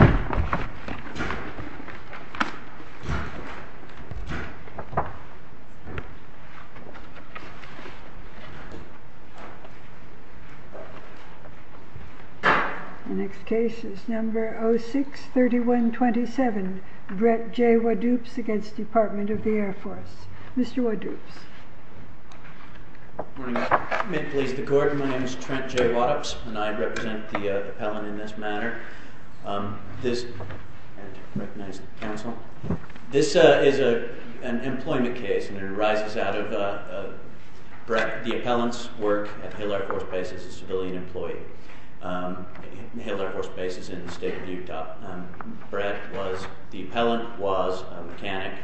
The next case is number 06-3127, Brett J. Wadoops against Department of the Air Force. Mr. Wadoops. Good morning. May it please the Court, my name is Trent J. Wadoops and I represent the appellant in this matter. This is an employment case and it arises out of Brett, the appellant's work at the Hale Air Force Base as a civilian employee. Hale Air Force Base is in the state of Utah. Brett was, the appellant was a mechanic.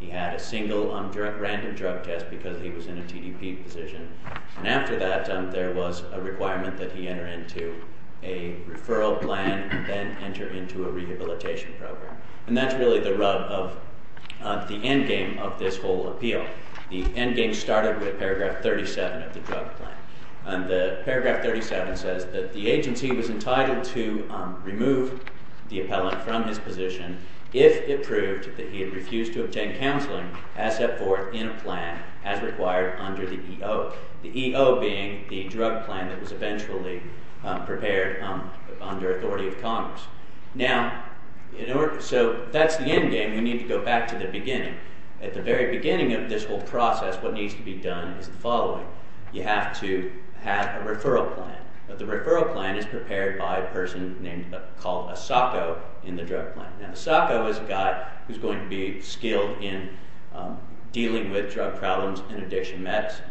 He had a single random drug test because he was in a TDP position. And after that, there was a requirement that he enter into a referral plan and then enter into a rehabilitation program. And that's really the rub of the endgame of this whole appeal. The endgame started with paragraph 37 of the drug plan. And the paragraph 37 says that the agency was entitled to remove the appellant from his position if it proved that he had refused to obtain counseling as set forth in a plan as required under the EO. The EO being the drug plan that was eventually prepared under authority of Congress. Now, so that's the endgame. We need to go back to the beginning. At the very beginning of this whole process, what needs to be done is the following. You have to have a referral plan. The referral plan is prepared by a person called a SOCO in the drug plan. Now, a SOCO is a guy who's going to be skilled in dealing with drug problems and addiction medicine.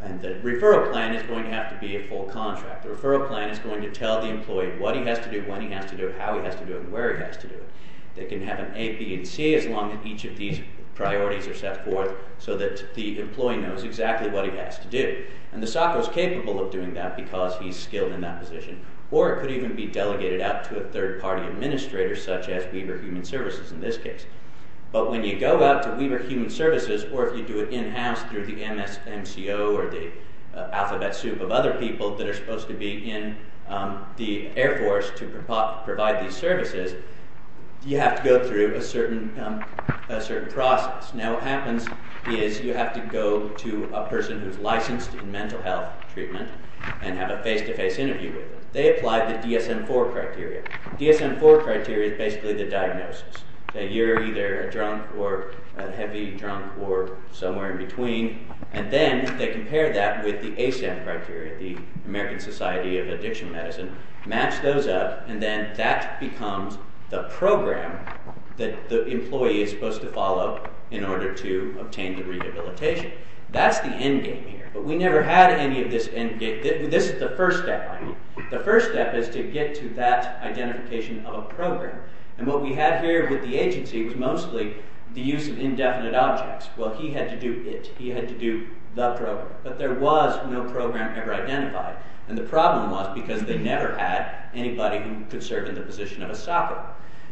And the referral plan is going to have to be a full contract. The referral plan is going to tell the employee what he has to do, when he has to do it, how he has to do it, and where he has to do it. They can have an A, B, and C as long as each of these priorities are set forth so that the employee knows exactly what he has to do. And the SOCO is capable of doing that because he's skilled in that position. Or it could even be delegated out to a third-party administrator, such as Weber Human Services in this case. But when you go out to Weber Human Services, or if you do it in-house through the MSMCO or the alphabet soup of other people that are supposed to be in the Air Force to provide these services, you have to go through a certain process. Now, what happens is you have to go to a person who's licensed in mental health treatment and have a face-to-face interview with them. They apply the DSM-IV criteria. DSM-IV criteria is basically the diagnosis. That you're either a drunk or a heavy drunk or somewhere in between. And then they compare that with the ASAM criteria, the American Society of Addiction Medicine, match those up, and then that becomes the program that the employee is supposed to follow in order to obtain the rehabilitation. That's the endgame here, but we never had any of this endgame. This is the first step, I mean. The first step is to get to that identification of a program. And what we had here with the agency was mostly the use of indefinite objects. Well, he had to do it. He had to do the program. But there was no program ever identified. And the problem was because they never had anybody who could serve in the position of a SOCO.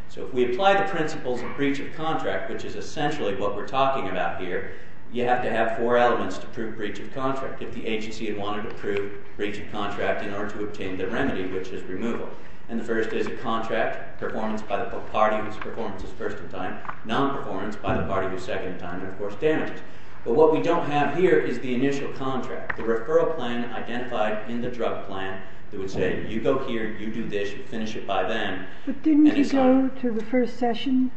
So if we apply the principles of breach of contract, which is essentially what we're talking about here, you have to have four elements to prove breach of contract. If the agency had wanted to prove breach of contract in order to obtain the remedy, which is removal. And the first is a contract, performance by the party whose performance is first in time, non-performance by the party whose second in time, and of course damages. But what we don't have here is the initial contract, the referral plan identified in the drug plan. It would say, you go here, you do this, you finish it by then. But didn't you go to the first session?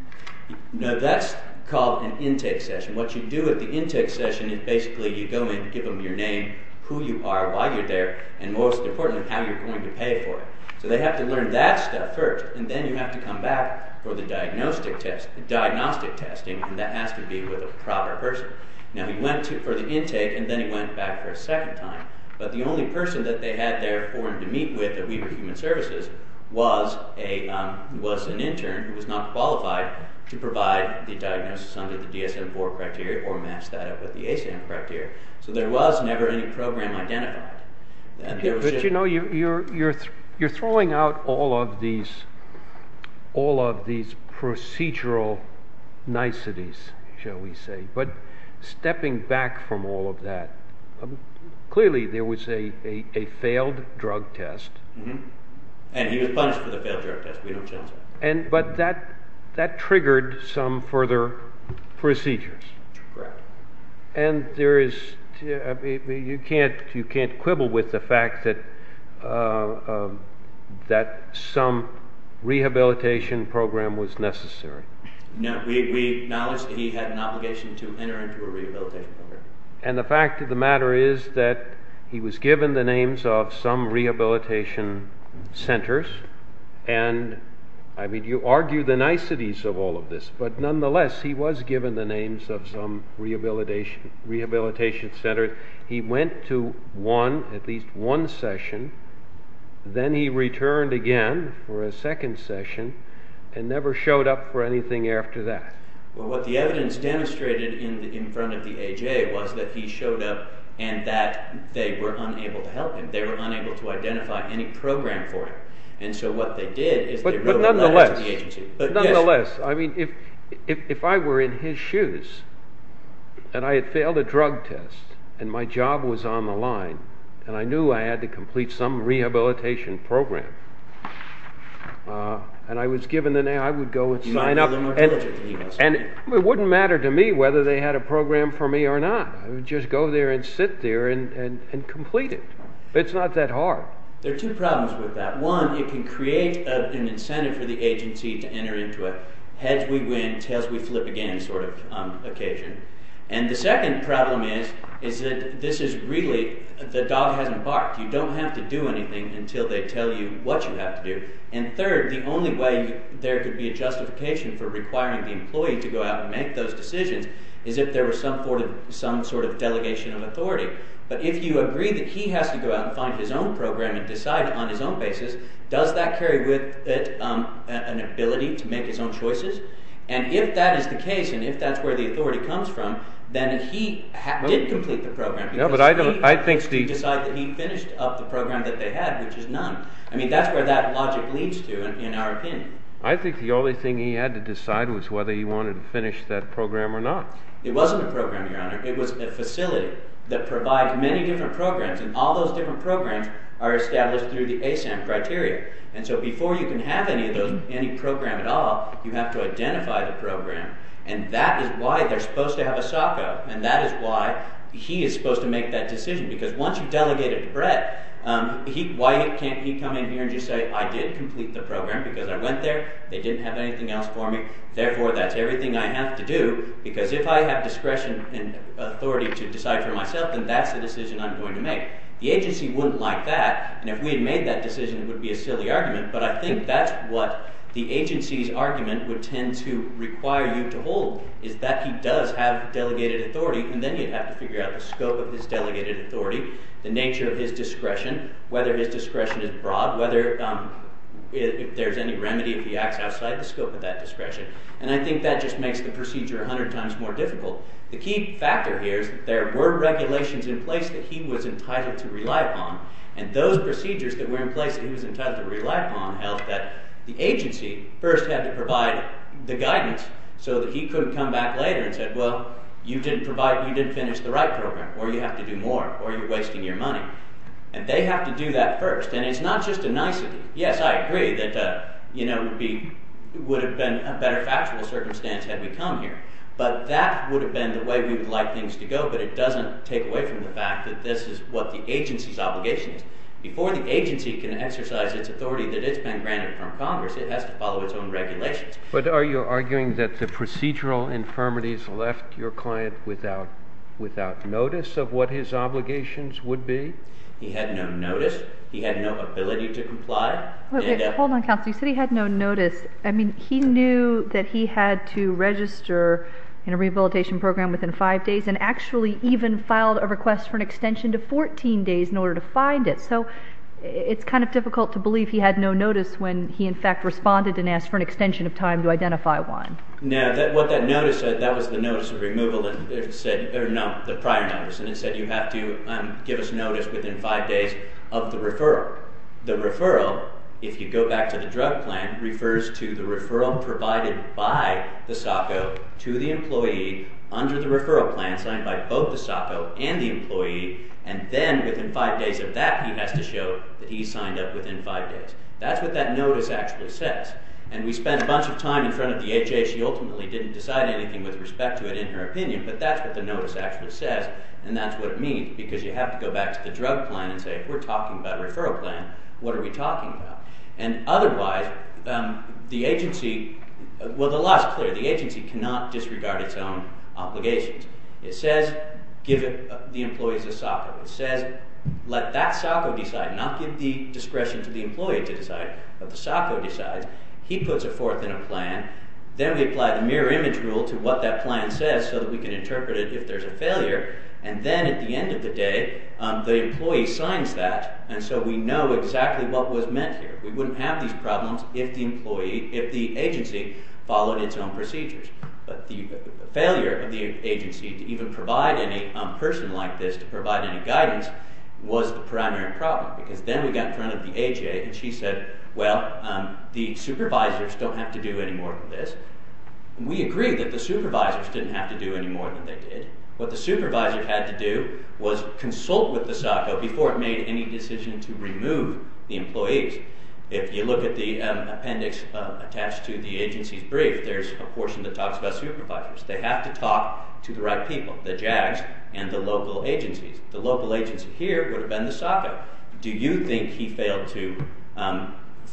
No, that's called an intake session. What you do at the intake session is basically you go in, give them your name, who you are, why you're there, and most importantly, how you're going to pay for it. So they have to learn that stuff first, and then you have to come back for the diagnostic testing, and that has to be with a proper person. Now he went for the intake, and then he went back for a second time. But the only person that they had there for him to meet with at Weber Human Services was an intern who was not qualified to provide the diagnosis under the DSM-IV criteria or match that up with the ASAM criteria. So there was never any program identified. But, you know, you're throwing out all of these procedural niceties, shall we say. But stepping back from all of that, clearly there was a failed drug test. And he was punished for the failed drug test. But that triggered some further procedures. Correct. And you can't quibble with the fact that some rehabilitation program was necessary. We acknowledge that he had an obligation to enter into a rehabilitation program. And the fact of the matter is that he was given the names of some rehabilitation centers. And, I mean, you argue the niceties of all of this, but nonetheless he was given the names of some rehabilitation centers. He went to one, at least one session. Then he returned again for a second session and never showed up for anything after that. Well, what the evidence demonstrated in front of the AJA was that he showed up and that they were unable to help him. They were unable to identify any program for him. Nonetheless, I mean, if I were in his shoes, and I had failed a drug test, and my job was on the line, and I knew I had to complete some rehabilitation program, and I was given the name, I would go and sign up. And it wouldn't matter to me whether they had a program for me or not. I would just go there and sit there and complete it. It's not that hard. There are two problems with that. One, it can create an incentive for the agency to enter into a heads-we-win, tails-we-flip-again sort of occasion. And the second problem is that this is really the dog has embarked. You don't have to do anything until they tell you what you have to do. And third, the only way there could be a justification for requiring the employee to go out and make those decisions is if there was some sort of delegation of authority. But if you agree that he has to go out and find his own program and decide on his own basis, does that carry with it an ability to make his own choices? And if that is the case, and if that's where the authority comes from, then he did complete the program because he decided that he finished up the program that they had, which is none. I mean, that's where that logic leads to in our opinion. I think the only thing he had to decide was whether he wanted to finish that program or not. It wasn't a program, Your Honor. It was a facility that provides many different programs, and all those different programs are established through the ASAM criteria. And so before you can have any program at all, you have to identify the program, and that is why they're supposed to have a SOCO, and that is why he is supposed to make that decision. Because once you delegate it to Brett, why can't he come in here and just say, I did complete the program because I went there, they didn't have anything else for me, therefore that's everything I have to do. Because if I have discretion and authority to decide for myself, then that's the decision I'm going to make. The agency wouldn't like that, and if we had made that decision, it would be a silly argument, but I think that's what the agency's argument would tend to require you to hold, is that he does have delegated authority, and then you'd have to figure out the scope of his delegated authority, the nature of his discretion, whether his discretion is broad, whether there's any remedy if he acts outside the scope of that discretion. And I think that just makes the procedure a hundred times more difficult. The key factor here is that there were regulations in place that he was entitled to rely upon, and those procedures that were in place that he was entitled to rely upon held that the agency first had to provide the guidance, so that he couldn't come back later and say, well, you didn't finish the right program, or you have to do more, or you're wasting your money. And they have to do that first, and it's not just a nicety. Yes, I agree that it would have been a better factual circumstance had we come here, but that would have been the way we would like things to go, but it doesn't take away from the fact that this is what the agency's obligation is. Before the agency can exercise its authority that it's been granted from Congress, it has to follow its own regulations. But are you arguing that the procedural infirmities left your client without notice of what his obligations would be? He had no notice. He had no ability to comply. Hold on, Counselor. You said he had no notice. I mean, he knew that he had to register in a rehabilitation program within five days and actually even filed a request for an extension to 14 days in order to find it. So it's kind of difficult to believe he had no notice when he, in fact, responded and asked for an extension of time to identify one. No, what that notice said, that was the notice of removal, the prior notice, and it said you have to give us notice within five days of the referral. The referral, if you go back to the drug plan, refers to the referral provided by the SOCO to the employee under the referral plan signed by both the SOCO and the employee, and then within five days of that he has to show that he signed up within five days. That's what that notice actually says. And we spent a bunch of time in front of the HA. She ultimately didn't decide anything with respect to it in her opinion, but that's what the notice actually says, and that's what it means, because you have to go back to the drug plan and say, if we're talking about a referral plan, what are we talking about? And otherwise, the agency, well, the law is clear. The agency cannot disregard its own obligations. It says give the employees a SOCO. It says let that SOCO decide, not give the discretion to the employee to decide, but the SOCO decides. He puts it forth in a plan. Then we apply the mirror image rule to what that plan says so that we can interpret it if there's a failure, and then at the end of the day the employee signs that, and so we know exactly what was meant here. We wouldn't have these problems if the agency followed its own procedures. But the failure of the agency to even provide any person like this to provide any guidance was the primary problem, because then we got in front of the HA, and she said, well, the supervisors don't have to do any more than this. We agree that the supervisors didn't have to do any more than they did. What the supervisor had to do was consult with the SOCO before it made any decision to remove the employees. If you look at the appendix attached to the agency's brief, there's a portion that talks about supervisors. They have to talk to the right people, the JAGs and the local agencies. The local agency here would have been the SOCO. Do you think he failed to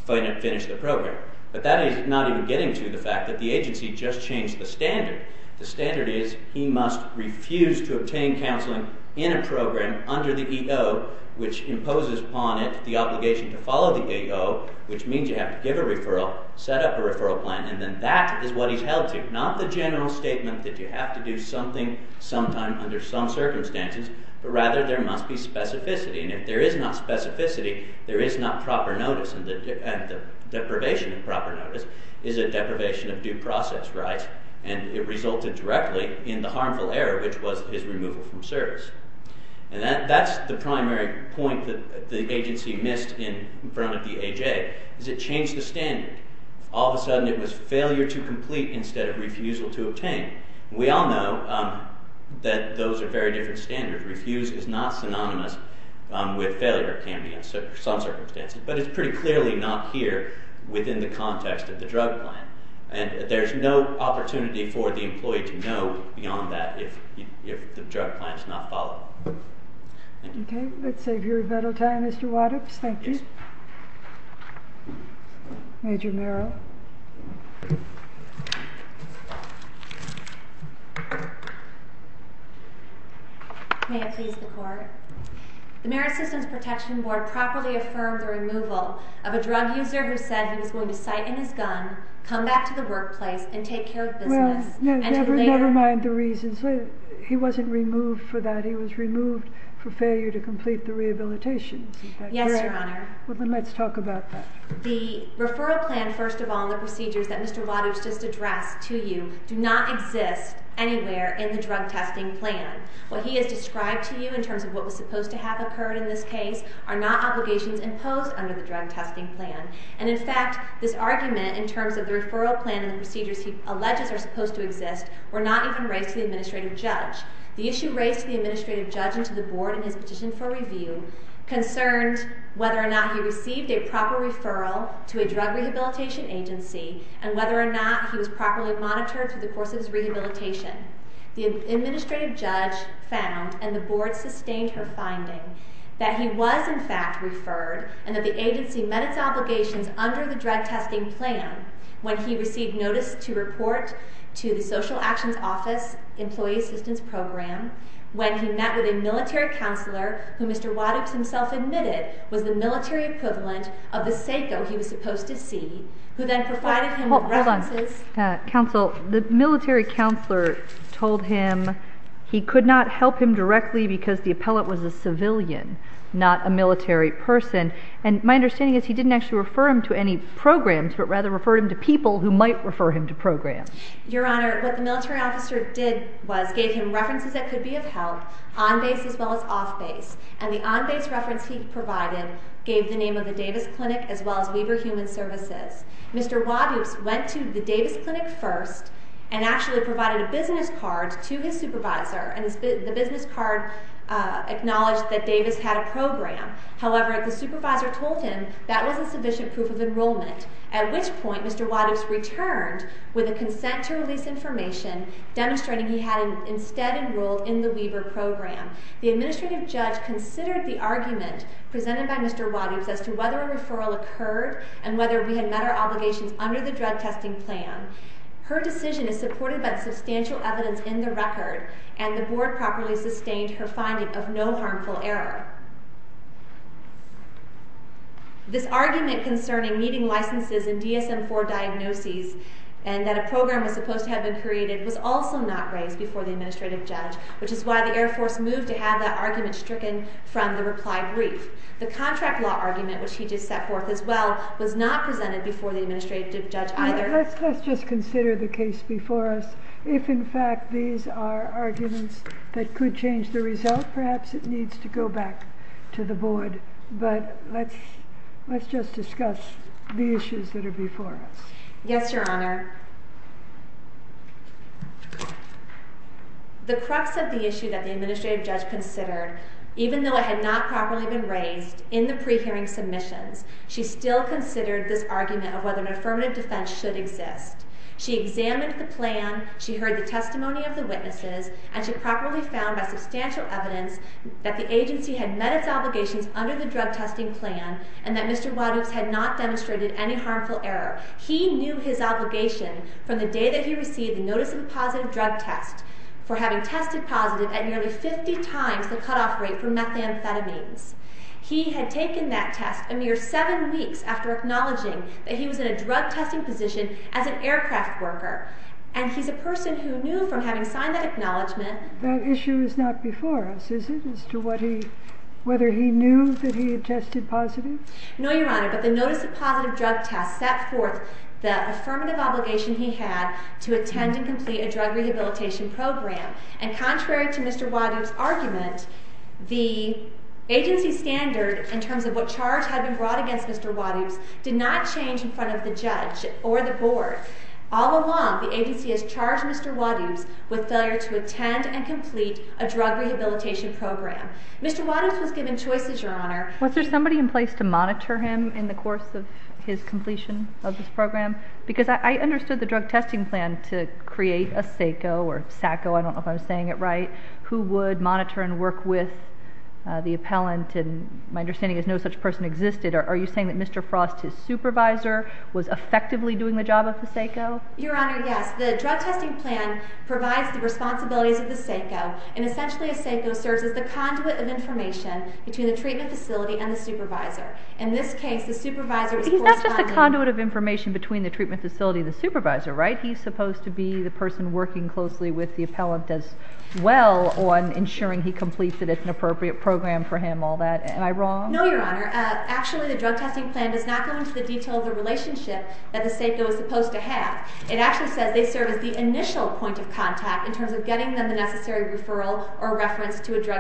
finish the program? But that is not even getting to the fact that the agency just changed the standard. The standard is he must refuse to obtain counseling in a program under the EO, which imposes upon it the obligation to follow the EO, which means you have to give a referral, set up a referral plan, and then that is what he's held to, not the general statement that you have to do something sometime under some circumstances, but rather there must be specificity, and if there is not specificity, there is not proper notice, and the deprivation of proper notice is a deprivation of due process, right? And it resulted directly in the harmful error, which was his removal from service. And that's the primary point that the agency missed in front of the AJ, is it changed the standard. All of a sudden it was failure to complete instead of refusal to obtain. We all know that those are very different standards. Refuse is not synonymous with failure of care in some circumstances, but it's pretty clearly not here within the context of the drug plan, and there's no opportunity for the employee to know beyond that if the drug plan is not followed. Okay. Let's save your little time, Mr. Waddups. Thank you. Major Merrill. May it please the Court. The Merrill Systems Protection Board properly affirmed the removal of a drug user who said he was going to sight in his gun, come back to the workplace, and take care of business. Never mind the reasons. He wasn't removed for that. He was removed for failure to complete the rehabilitation. Yes, Your Honor. Let's talk about that. The referral plan, first of all, and the procedures that Mr. Waddups just addressed to you do not exist anywhere in the drug testing plan. What he has described to you in terms of what was supposed to have occurred in this case are not obligations imposed under the drug testing plan. And, in fact, this argument in terms of the referral plan and the procedures he alleges are supposed to exist were not even raised to the administrative judge. The issue raised to the administrative judge and to the board in his petition for review concerned whether or not he received a proper referral to a drug rehabilitation agency and whether or not he was properly monitored through the course of his rehabilitation. The administrative judge found, and the board sustained her finding, that he was, in fact, referred and that the agency met its obligations under the drug testing plan when he received notice to report to the Social Actions Office Employee Assistance Program, when he met with a military counselor who Mr. Waddups himself admitted was the military equivalent of the SACO he was supposed to see, who then provided him with references... Hold on. Counsel, the military counselor told him he could not help him directly because the appellate was a civilian, not a military person. And my understanding is he didn't actually refer him to any programs, but rather referred him to people who might refer him to programs. Your Honor, what the military officer did was gave him references that could be of help, on base as well as off base, and the on base reference he provided gave the name of the Davis Clinic as well as Weber Human Services. Mr. Waddups went to the Davis Clinic first and actually provided a business card to his supervisor, and the business card acknowledged that Davis had a program. However, the supervisor told him that wasn't sufficient proof of enrollment, at which point Mr. Waddups returned with a consent to release information demonstrating he had instead enrolled in the Weber program. The administrative judge considered the argument presented by Mr. Waddups as to whether a referral occurred and whether we had met our obligations under the drug testing plan. Her decision is supported by the substantial evidence in the record, and the Board properly sustained her finding of no harmful error. This argument concerning meeting licenses and DSM-IV diagnoses and that a program was supposed to have been created was also not raised before the administrative judge, which is why the Air Force moved to have that argument stricken from the reply brief. The contract law argument, which he just set forth as well, was not presented before the administrative judge either. Let's just consider the case before us. If, in fact, these are arguments that could change the result, perhaps it needs to go back to the Board. But let's just discuss the issues that are before us. Yes, Your Honor. The crux of the issue that the administrative judge considered, even though it had not properly been raised in the pre-hearing submissions, she still considered this argument of whether an affirmative defense should exist. She examined the plan, she heard the testimony of the witnesses, and she properly found, by substantial evidence, that the agency had met its obligations under the drug testing plan and that Mr. Wadoops had not demonstrated any harmful error. He knew his obligation from the day that he received the notice of a positive drug test for having tested positive at nearly 50 times the cutoff rate for methamphetamines. He had taken that test a mere 7 weeks after acknowledging that he was in a drug testing position as an aircraft worker. And he's a person who knew from having signed that acknowledgment... That issue is not before us, is it, as to whether he knew that he had tested positive? No, Your Honor. But the notice of positive drug test set forth the affirmative obligation he had to attend and complete a drug rehabilitation program. And contrary to Mr. Wadoops' argument, the agency standard in terms of what charge had been brought against Mr. Wadoops did not change in front of the judge or the Board. All along, the agency has charged Mr. Wadoops with failure to attend and complete a drug rehabilitation program. Mr. Wadoops was given choices, Your Honor. Was there somebody in place to monitor him in the course of his completion of this program? Because I understood the drug testing plan to create a SACO or SACO, I don't know if I'm saying it right, who would monitor and work with the appellant. And my understanding is no such person existed. Are you saying that Mr. Frost, his supervisor, was effectively doing the job of the SACO? Your Honor, yes. The drug testing plan provides the responsibilities of the SACO, and essentially a SACO serves as the conduit of information between the treatment facility and the supervisor. In this case, the supervisor is corresponding. He's not just the conduit of information between the treatment facility and the supervisor, right? He's supposed to be the person working closely with the appellant as well on ensuring he completes it. It's an appropriate program for him, all that. Am I wrong? No, Your Honor. Actually, the drug testing plan does not go into the detail of the relationship that the SACO is supposed to have. It actually says they serve as the initial point of contact in terms of getting them the necessary referral or reference to a drug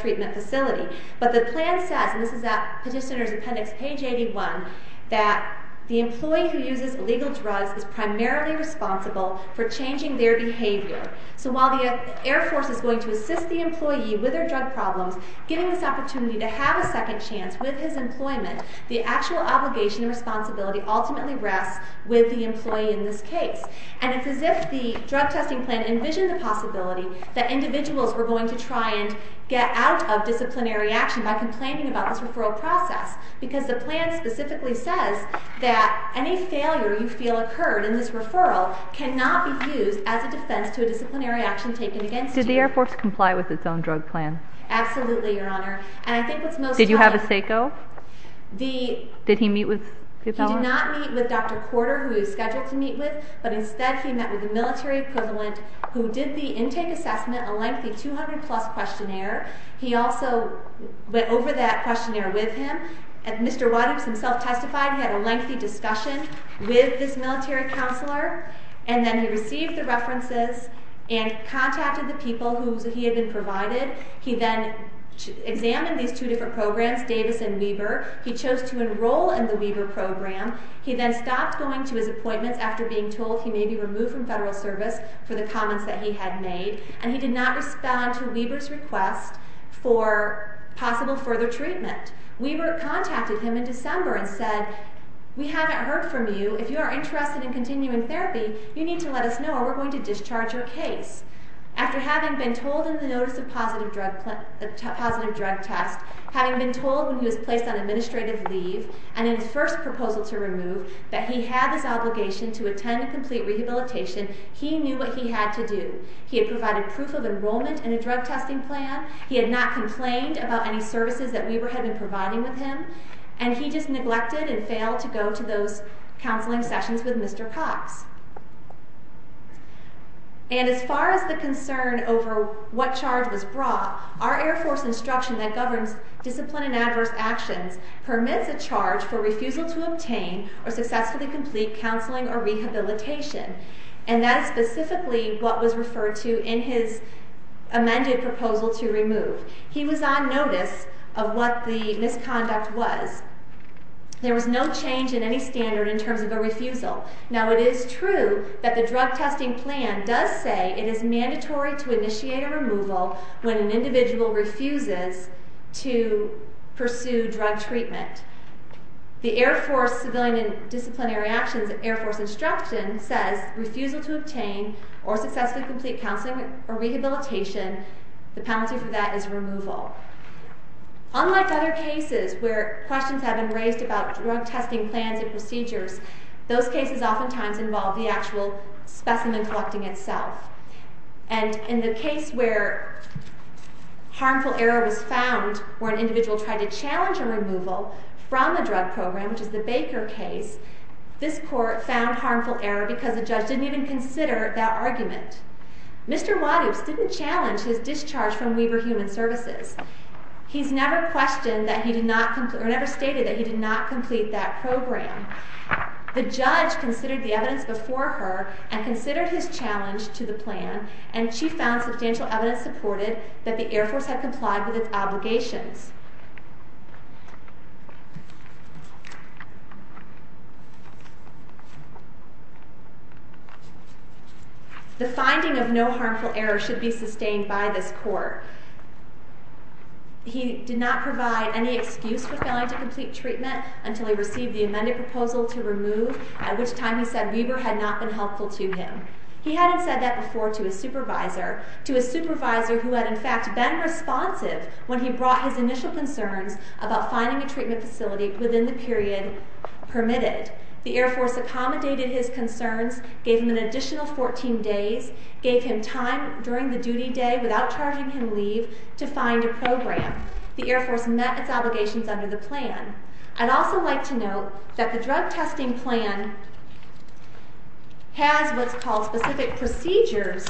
treatment facility. But the plan says, and this is at Petitioner's Appendix, page 81, that the employee who uses illegal drugs is primarily responsible for changing their behavior. So while the Air Force is going to assist the employee with their drug problems, giving this opportunity to have a second chance with his employment, the actual obligation and responsibility ultimately rests with the employee in this case. And it's as if the drug testing plan envisioned the possibility that individuals were going to try and get out of disciplinary action by complaining about this referral process because the plan specifically says that any failure you feel occurred in this referral cannot be used as a defense to a disciplinary action taken against you. Did the Air Force comply with its own drug plan? Absolutely, Your Honor. Did you have a SACO? Did he meet with the fellow? He did not meet with Dr. Corder, who he was scheduled to meet with, but instead he met with a military appellant who did the intake assessment, a lengthy 200-plus questionnaire. He also went over that questionnaire with him. Mr. Waddups himself testified he had a lengthy discussion with this military counselor, and then he received the references and contacted the people who he had been provided. He then examined these two different programs, Davis and Weber. He chose to enroll in the Weber program. He then stopped going to his appointments after being told he may be removed from federal service for the comments that he had made, and he did not respond to Weber's request for possible further treatment. Weber contacted him in December and said, We haven't heard from you. If you are interested in continuing therapy, you need to let us know or we're going to discharge your case. After having been told in the notice of positive drug test, having been told when he was placed on administrative leave and in his first proposal to remove that he had this obligation to attend a complete rehabilitation, he knew what he had to do. He had provided proof of enrollment in a drug testing plan. He had not complained about any services that Weber had been providing with him, and he just neglected and failed to go to those counseling sessions with Mr. Cox. And as far as the concern over what charge was brought, our Air Force instruction that governs discipline in adverse actions permits a charge for refusal to obtain or successfully complete counseling or rehabilitation, and that is specifically what was referred to in his amended proposal to remove. He was on notice of what the misconduct was. There was no change in any standard in terms of a refusal. Now, it is true that the drug testing plan does say it is mandatory to initiate a removal when an individual refuses to pursue drug treatment. The Air Force Civilian and Disciplinary Actions Air Force instruction says refusal to obtain or successfully complete counseling or rehabilitation, the penalty for that is removal. Unlike other cases where questions have been raised about drug testing plans and procedures, those cases oftentimes involve the actual specimen collecting itself. And in the case where harmful error was found where an individual tried to challenge a removal from the drug program, which is the Baker case, this court found harmful error because the judge didn't even consider that argument. Mr. Wadous didn't challenge his discharge from Weber Human Services. He's never stated that he did not complete that program. The judge considered the evidence before her and considered his challenge to the plan, and she found substantial evidence supported that the Air Force had complied with its obligations. The finding of no harmful error should be sustained by this court. He did not provide any excuse for failing to complete treatment until he received the amended proposal to remove, at which time he said Weber had not been helpful to him. He hadn't said that before to a supervisor, to a supervisor who had, in fact, been responsive about finding a treatment facility within the period permitted. The Air Force accommodated his concerns, gave him an additional 14 days, gave him time during the duty day without charging him leave to find a program. The Air Force met its obligations under the plan. I'd also like to note that the drug testing plan has what's called specific procedures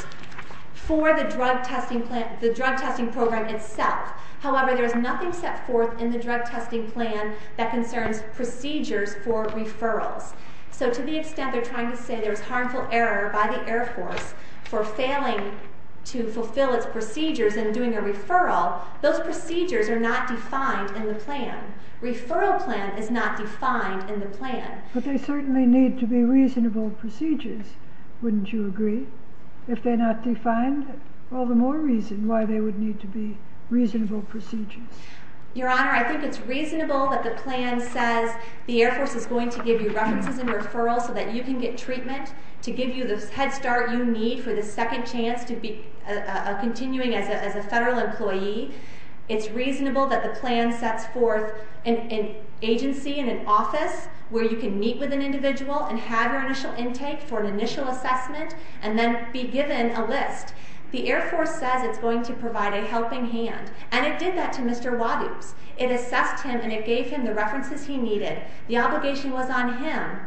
for the drug testing plan, the drug testing program itself. However, there's nothing set forth in the drug testing plan that concerns procedures for referrals. So to the extent they're trying to say there's harmful error by the Air Force for failing to fulfill its procedures and doing a referral, those procedures are not defined in the plan. Referral plan is not defined in the plan. But they certainly need to be reasonable procedures, wouldn't you agree? If they're not defined, all the more reason why they would need to be reasonable procedures. Your Honor, I think it's reasonable that the plan says the Air Force is going to give you references and referrals so that you can get treatment to give you the head start you need for the second chance to be continuing as a federal employee. It's reasonable that the plan sets forth an agency and an office where you can meet with an individual and have your initial intake for an initial assessment and then be given a list. The Air Force says it's going to provide a helping hand, and it did that to Mr. Wadoops. It assessed him and it gave him the references he needed. The obligation was on him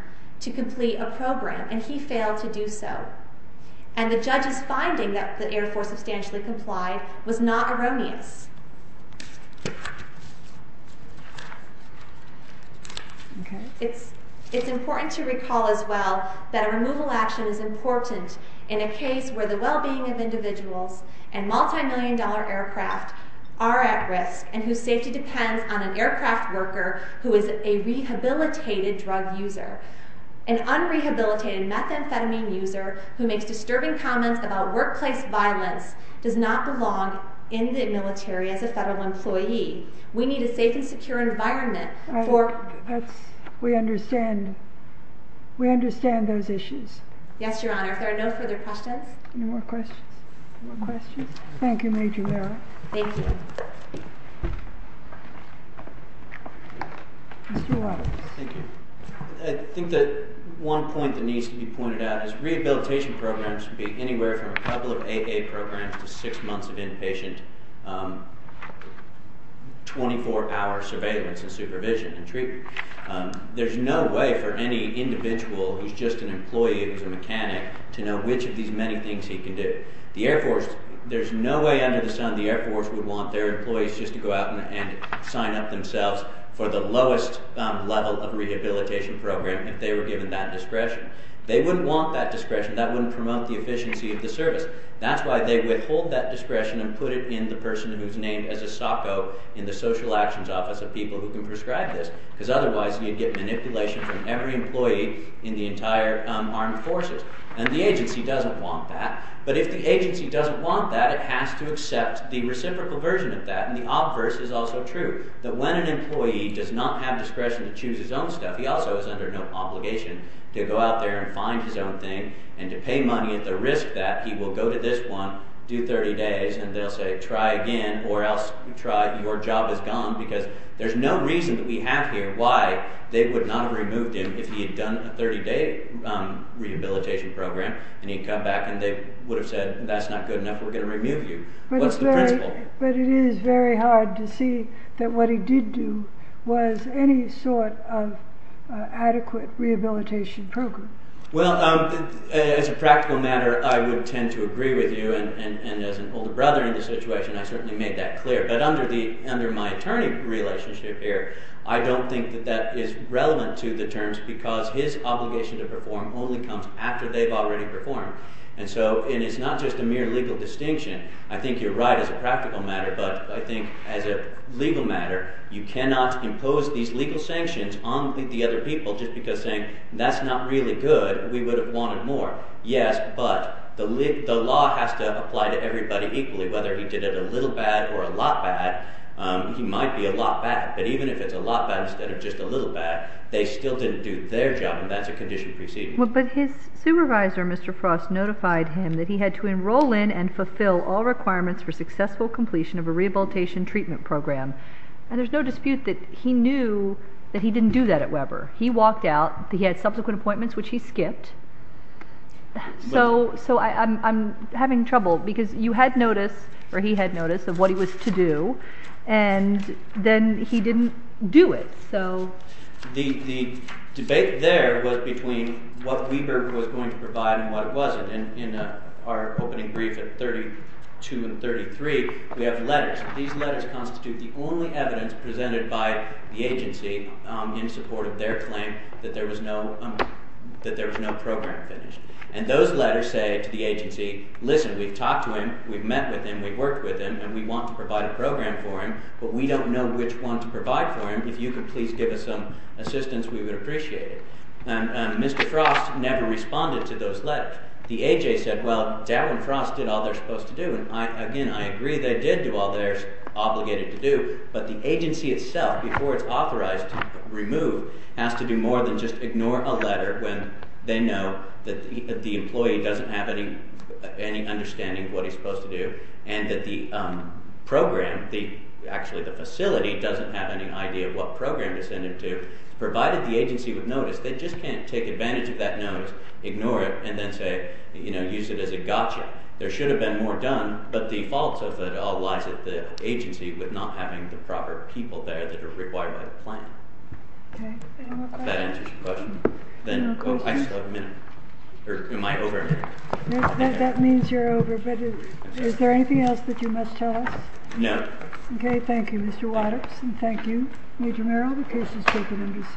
to complete a program, and he failed to do so. And the judge's finding that the Air Force substantially complied was not erroneous. It's important to recall as well that a removal action is important in a case where the well-being of individuals and multimillion-dollar aircraft are at risk and whose safety depends on an aircraft worker who is a rehabilitated drug user. An unrehabilitated methamphetamine user who makes disturbing comments about workplace violence does not belong in the military as a federal employee. We need a safe and secure environment for... We understand those issues. Yes, Your Honor. If there are no further questions... Any more questions? Thank you, Major Merrill. Thank you. Mr. Wadoops. Thank you. I think that one point that needs to be pointed out is rehabilitation programs can be anywhere from a couple of AA programs to six months of inpatient 24-hour surveillance and supervision and treatment. There's no way for any individual who's just an employee, who's a mechanic, to know which of these many things he can do. The Air Force, there's no way under the sun the Air Force would want their employees just to go out and sign up themselves for the lowest level of rehabilitation program if they were given that discretion. They wouldn't want that discretion. That wouldn't promote the efficiency of the service. That's why they withhold that discretion and put it in the person who's named as a SOCO in the Social Actions Office of people who can prescribe this, because otherwise you'd get manipulation from every employee in the entire Armed Forces. And the agency doesn't want that. But if the agency doesn't want that, it has to accept the reciprocal version of that, and the obverse is also true, that when an employee does not have discretion to choose his own stuff, he also is under no obligation to go out there and find his own thing and to pay money at the risk that he will go to this one, do 30 days, and they'll say, try again, or else your job is gone, because there's no reason that we have here why they would not have removed him if he had done a 30-day rehabilitation program and he'd come back and they would have said, that's not good enough, we're going to remove you. What's the principle? But it is very hard to see that what he did do was any sort of adequate rehabilitation program. Well, as a practical matter, I would tend to agree with you, and as an older brother in the situation, I certainly made that clear. But under my attorney relationship here, I don't think that that is relevant to the terms, because his obligation to perform only comes after they've already performed. And it's not just a mere legal distinction. I think you're right as a practical matter, but I think as a legal matter, you cannot impose these legal sanctions on the other people just because saying, that's not really good, we would have wanted more. Yes, but the law has to apply to everybody equally, whether he did it a little bad or a lot bad. He might be a lot bad, but even if it's a lot bad instead of just a little bad, they still didn't do their job, and that's a condition preceding. But his supervisor, Mr. Frost, notified him that he had to enroll in and fulfill all requirements for successful completion of a rehabilitation treatment program. And there's no dispute that he knew that he didn't do that at Weber. He walked out. He had subsequent appointments, which he skipped. So I'm having trouble, because you had notice, or he had notice, of what he was to do, and then he didn't do it. The debate there was between what Weber was going to provide and what it wasn't. In our opening brief at 32 and 33, we have letters. These letters constitute the only evidence presented by the agency in support of their claim that there was no program finished. And those letters say to the agency, listen, we've talked to him, we've met with him, we've worked with him, and we want to provide a program for him, but we don't know which one to provide for him. If you could please give us some assistance, we would appreciate it. Mr. Frost never responded to those letters. The AJ said, well, Dow and Frost did all they're supposed to do, and again, I agree they did do all they're obligated to do, but the agency itself, before it's authorized to remove, has to do more than just ignore a letter when they know that the employee doesn't have any understanding of what he's supposed to do, and that the program, actually the facility, doesn't have any idea of what program to send it to, provided the agency would notice. They just can't take advantage of that notice, ignore it, and then say, you know, use it as a gotcha. There should have been more done, but the fault of it all lies at the agency with not having the proper people there that are required by the plan. Does that answer your question? I still have a minute. Am I over? That means you're over, but is there anything else that you must tell us? No. Okay, thank you, Mr. Waters, and thank you, Major Merrill. The case is taken under submission.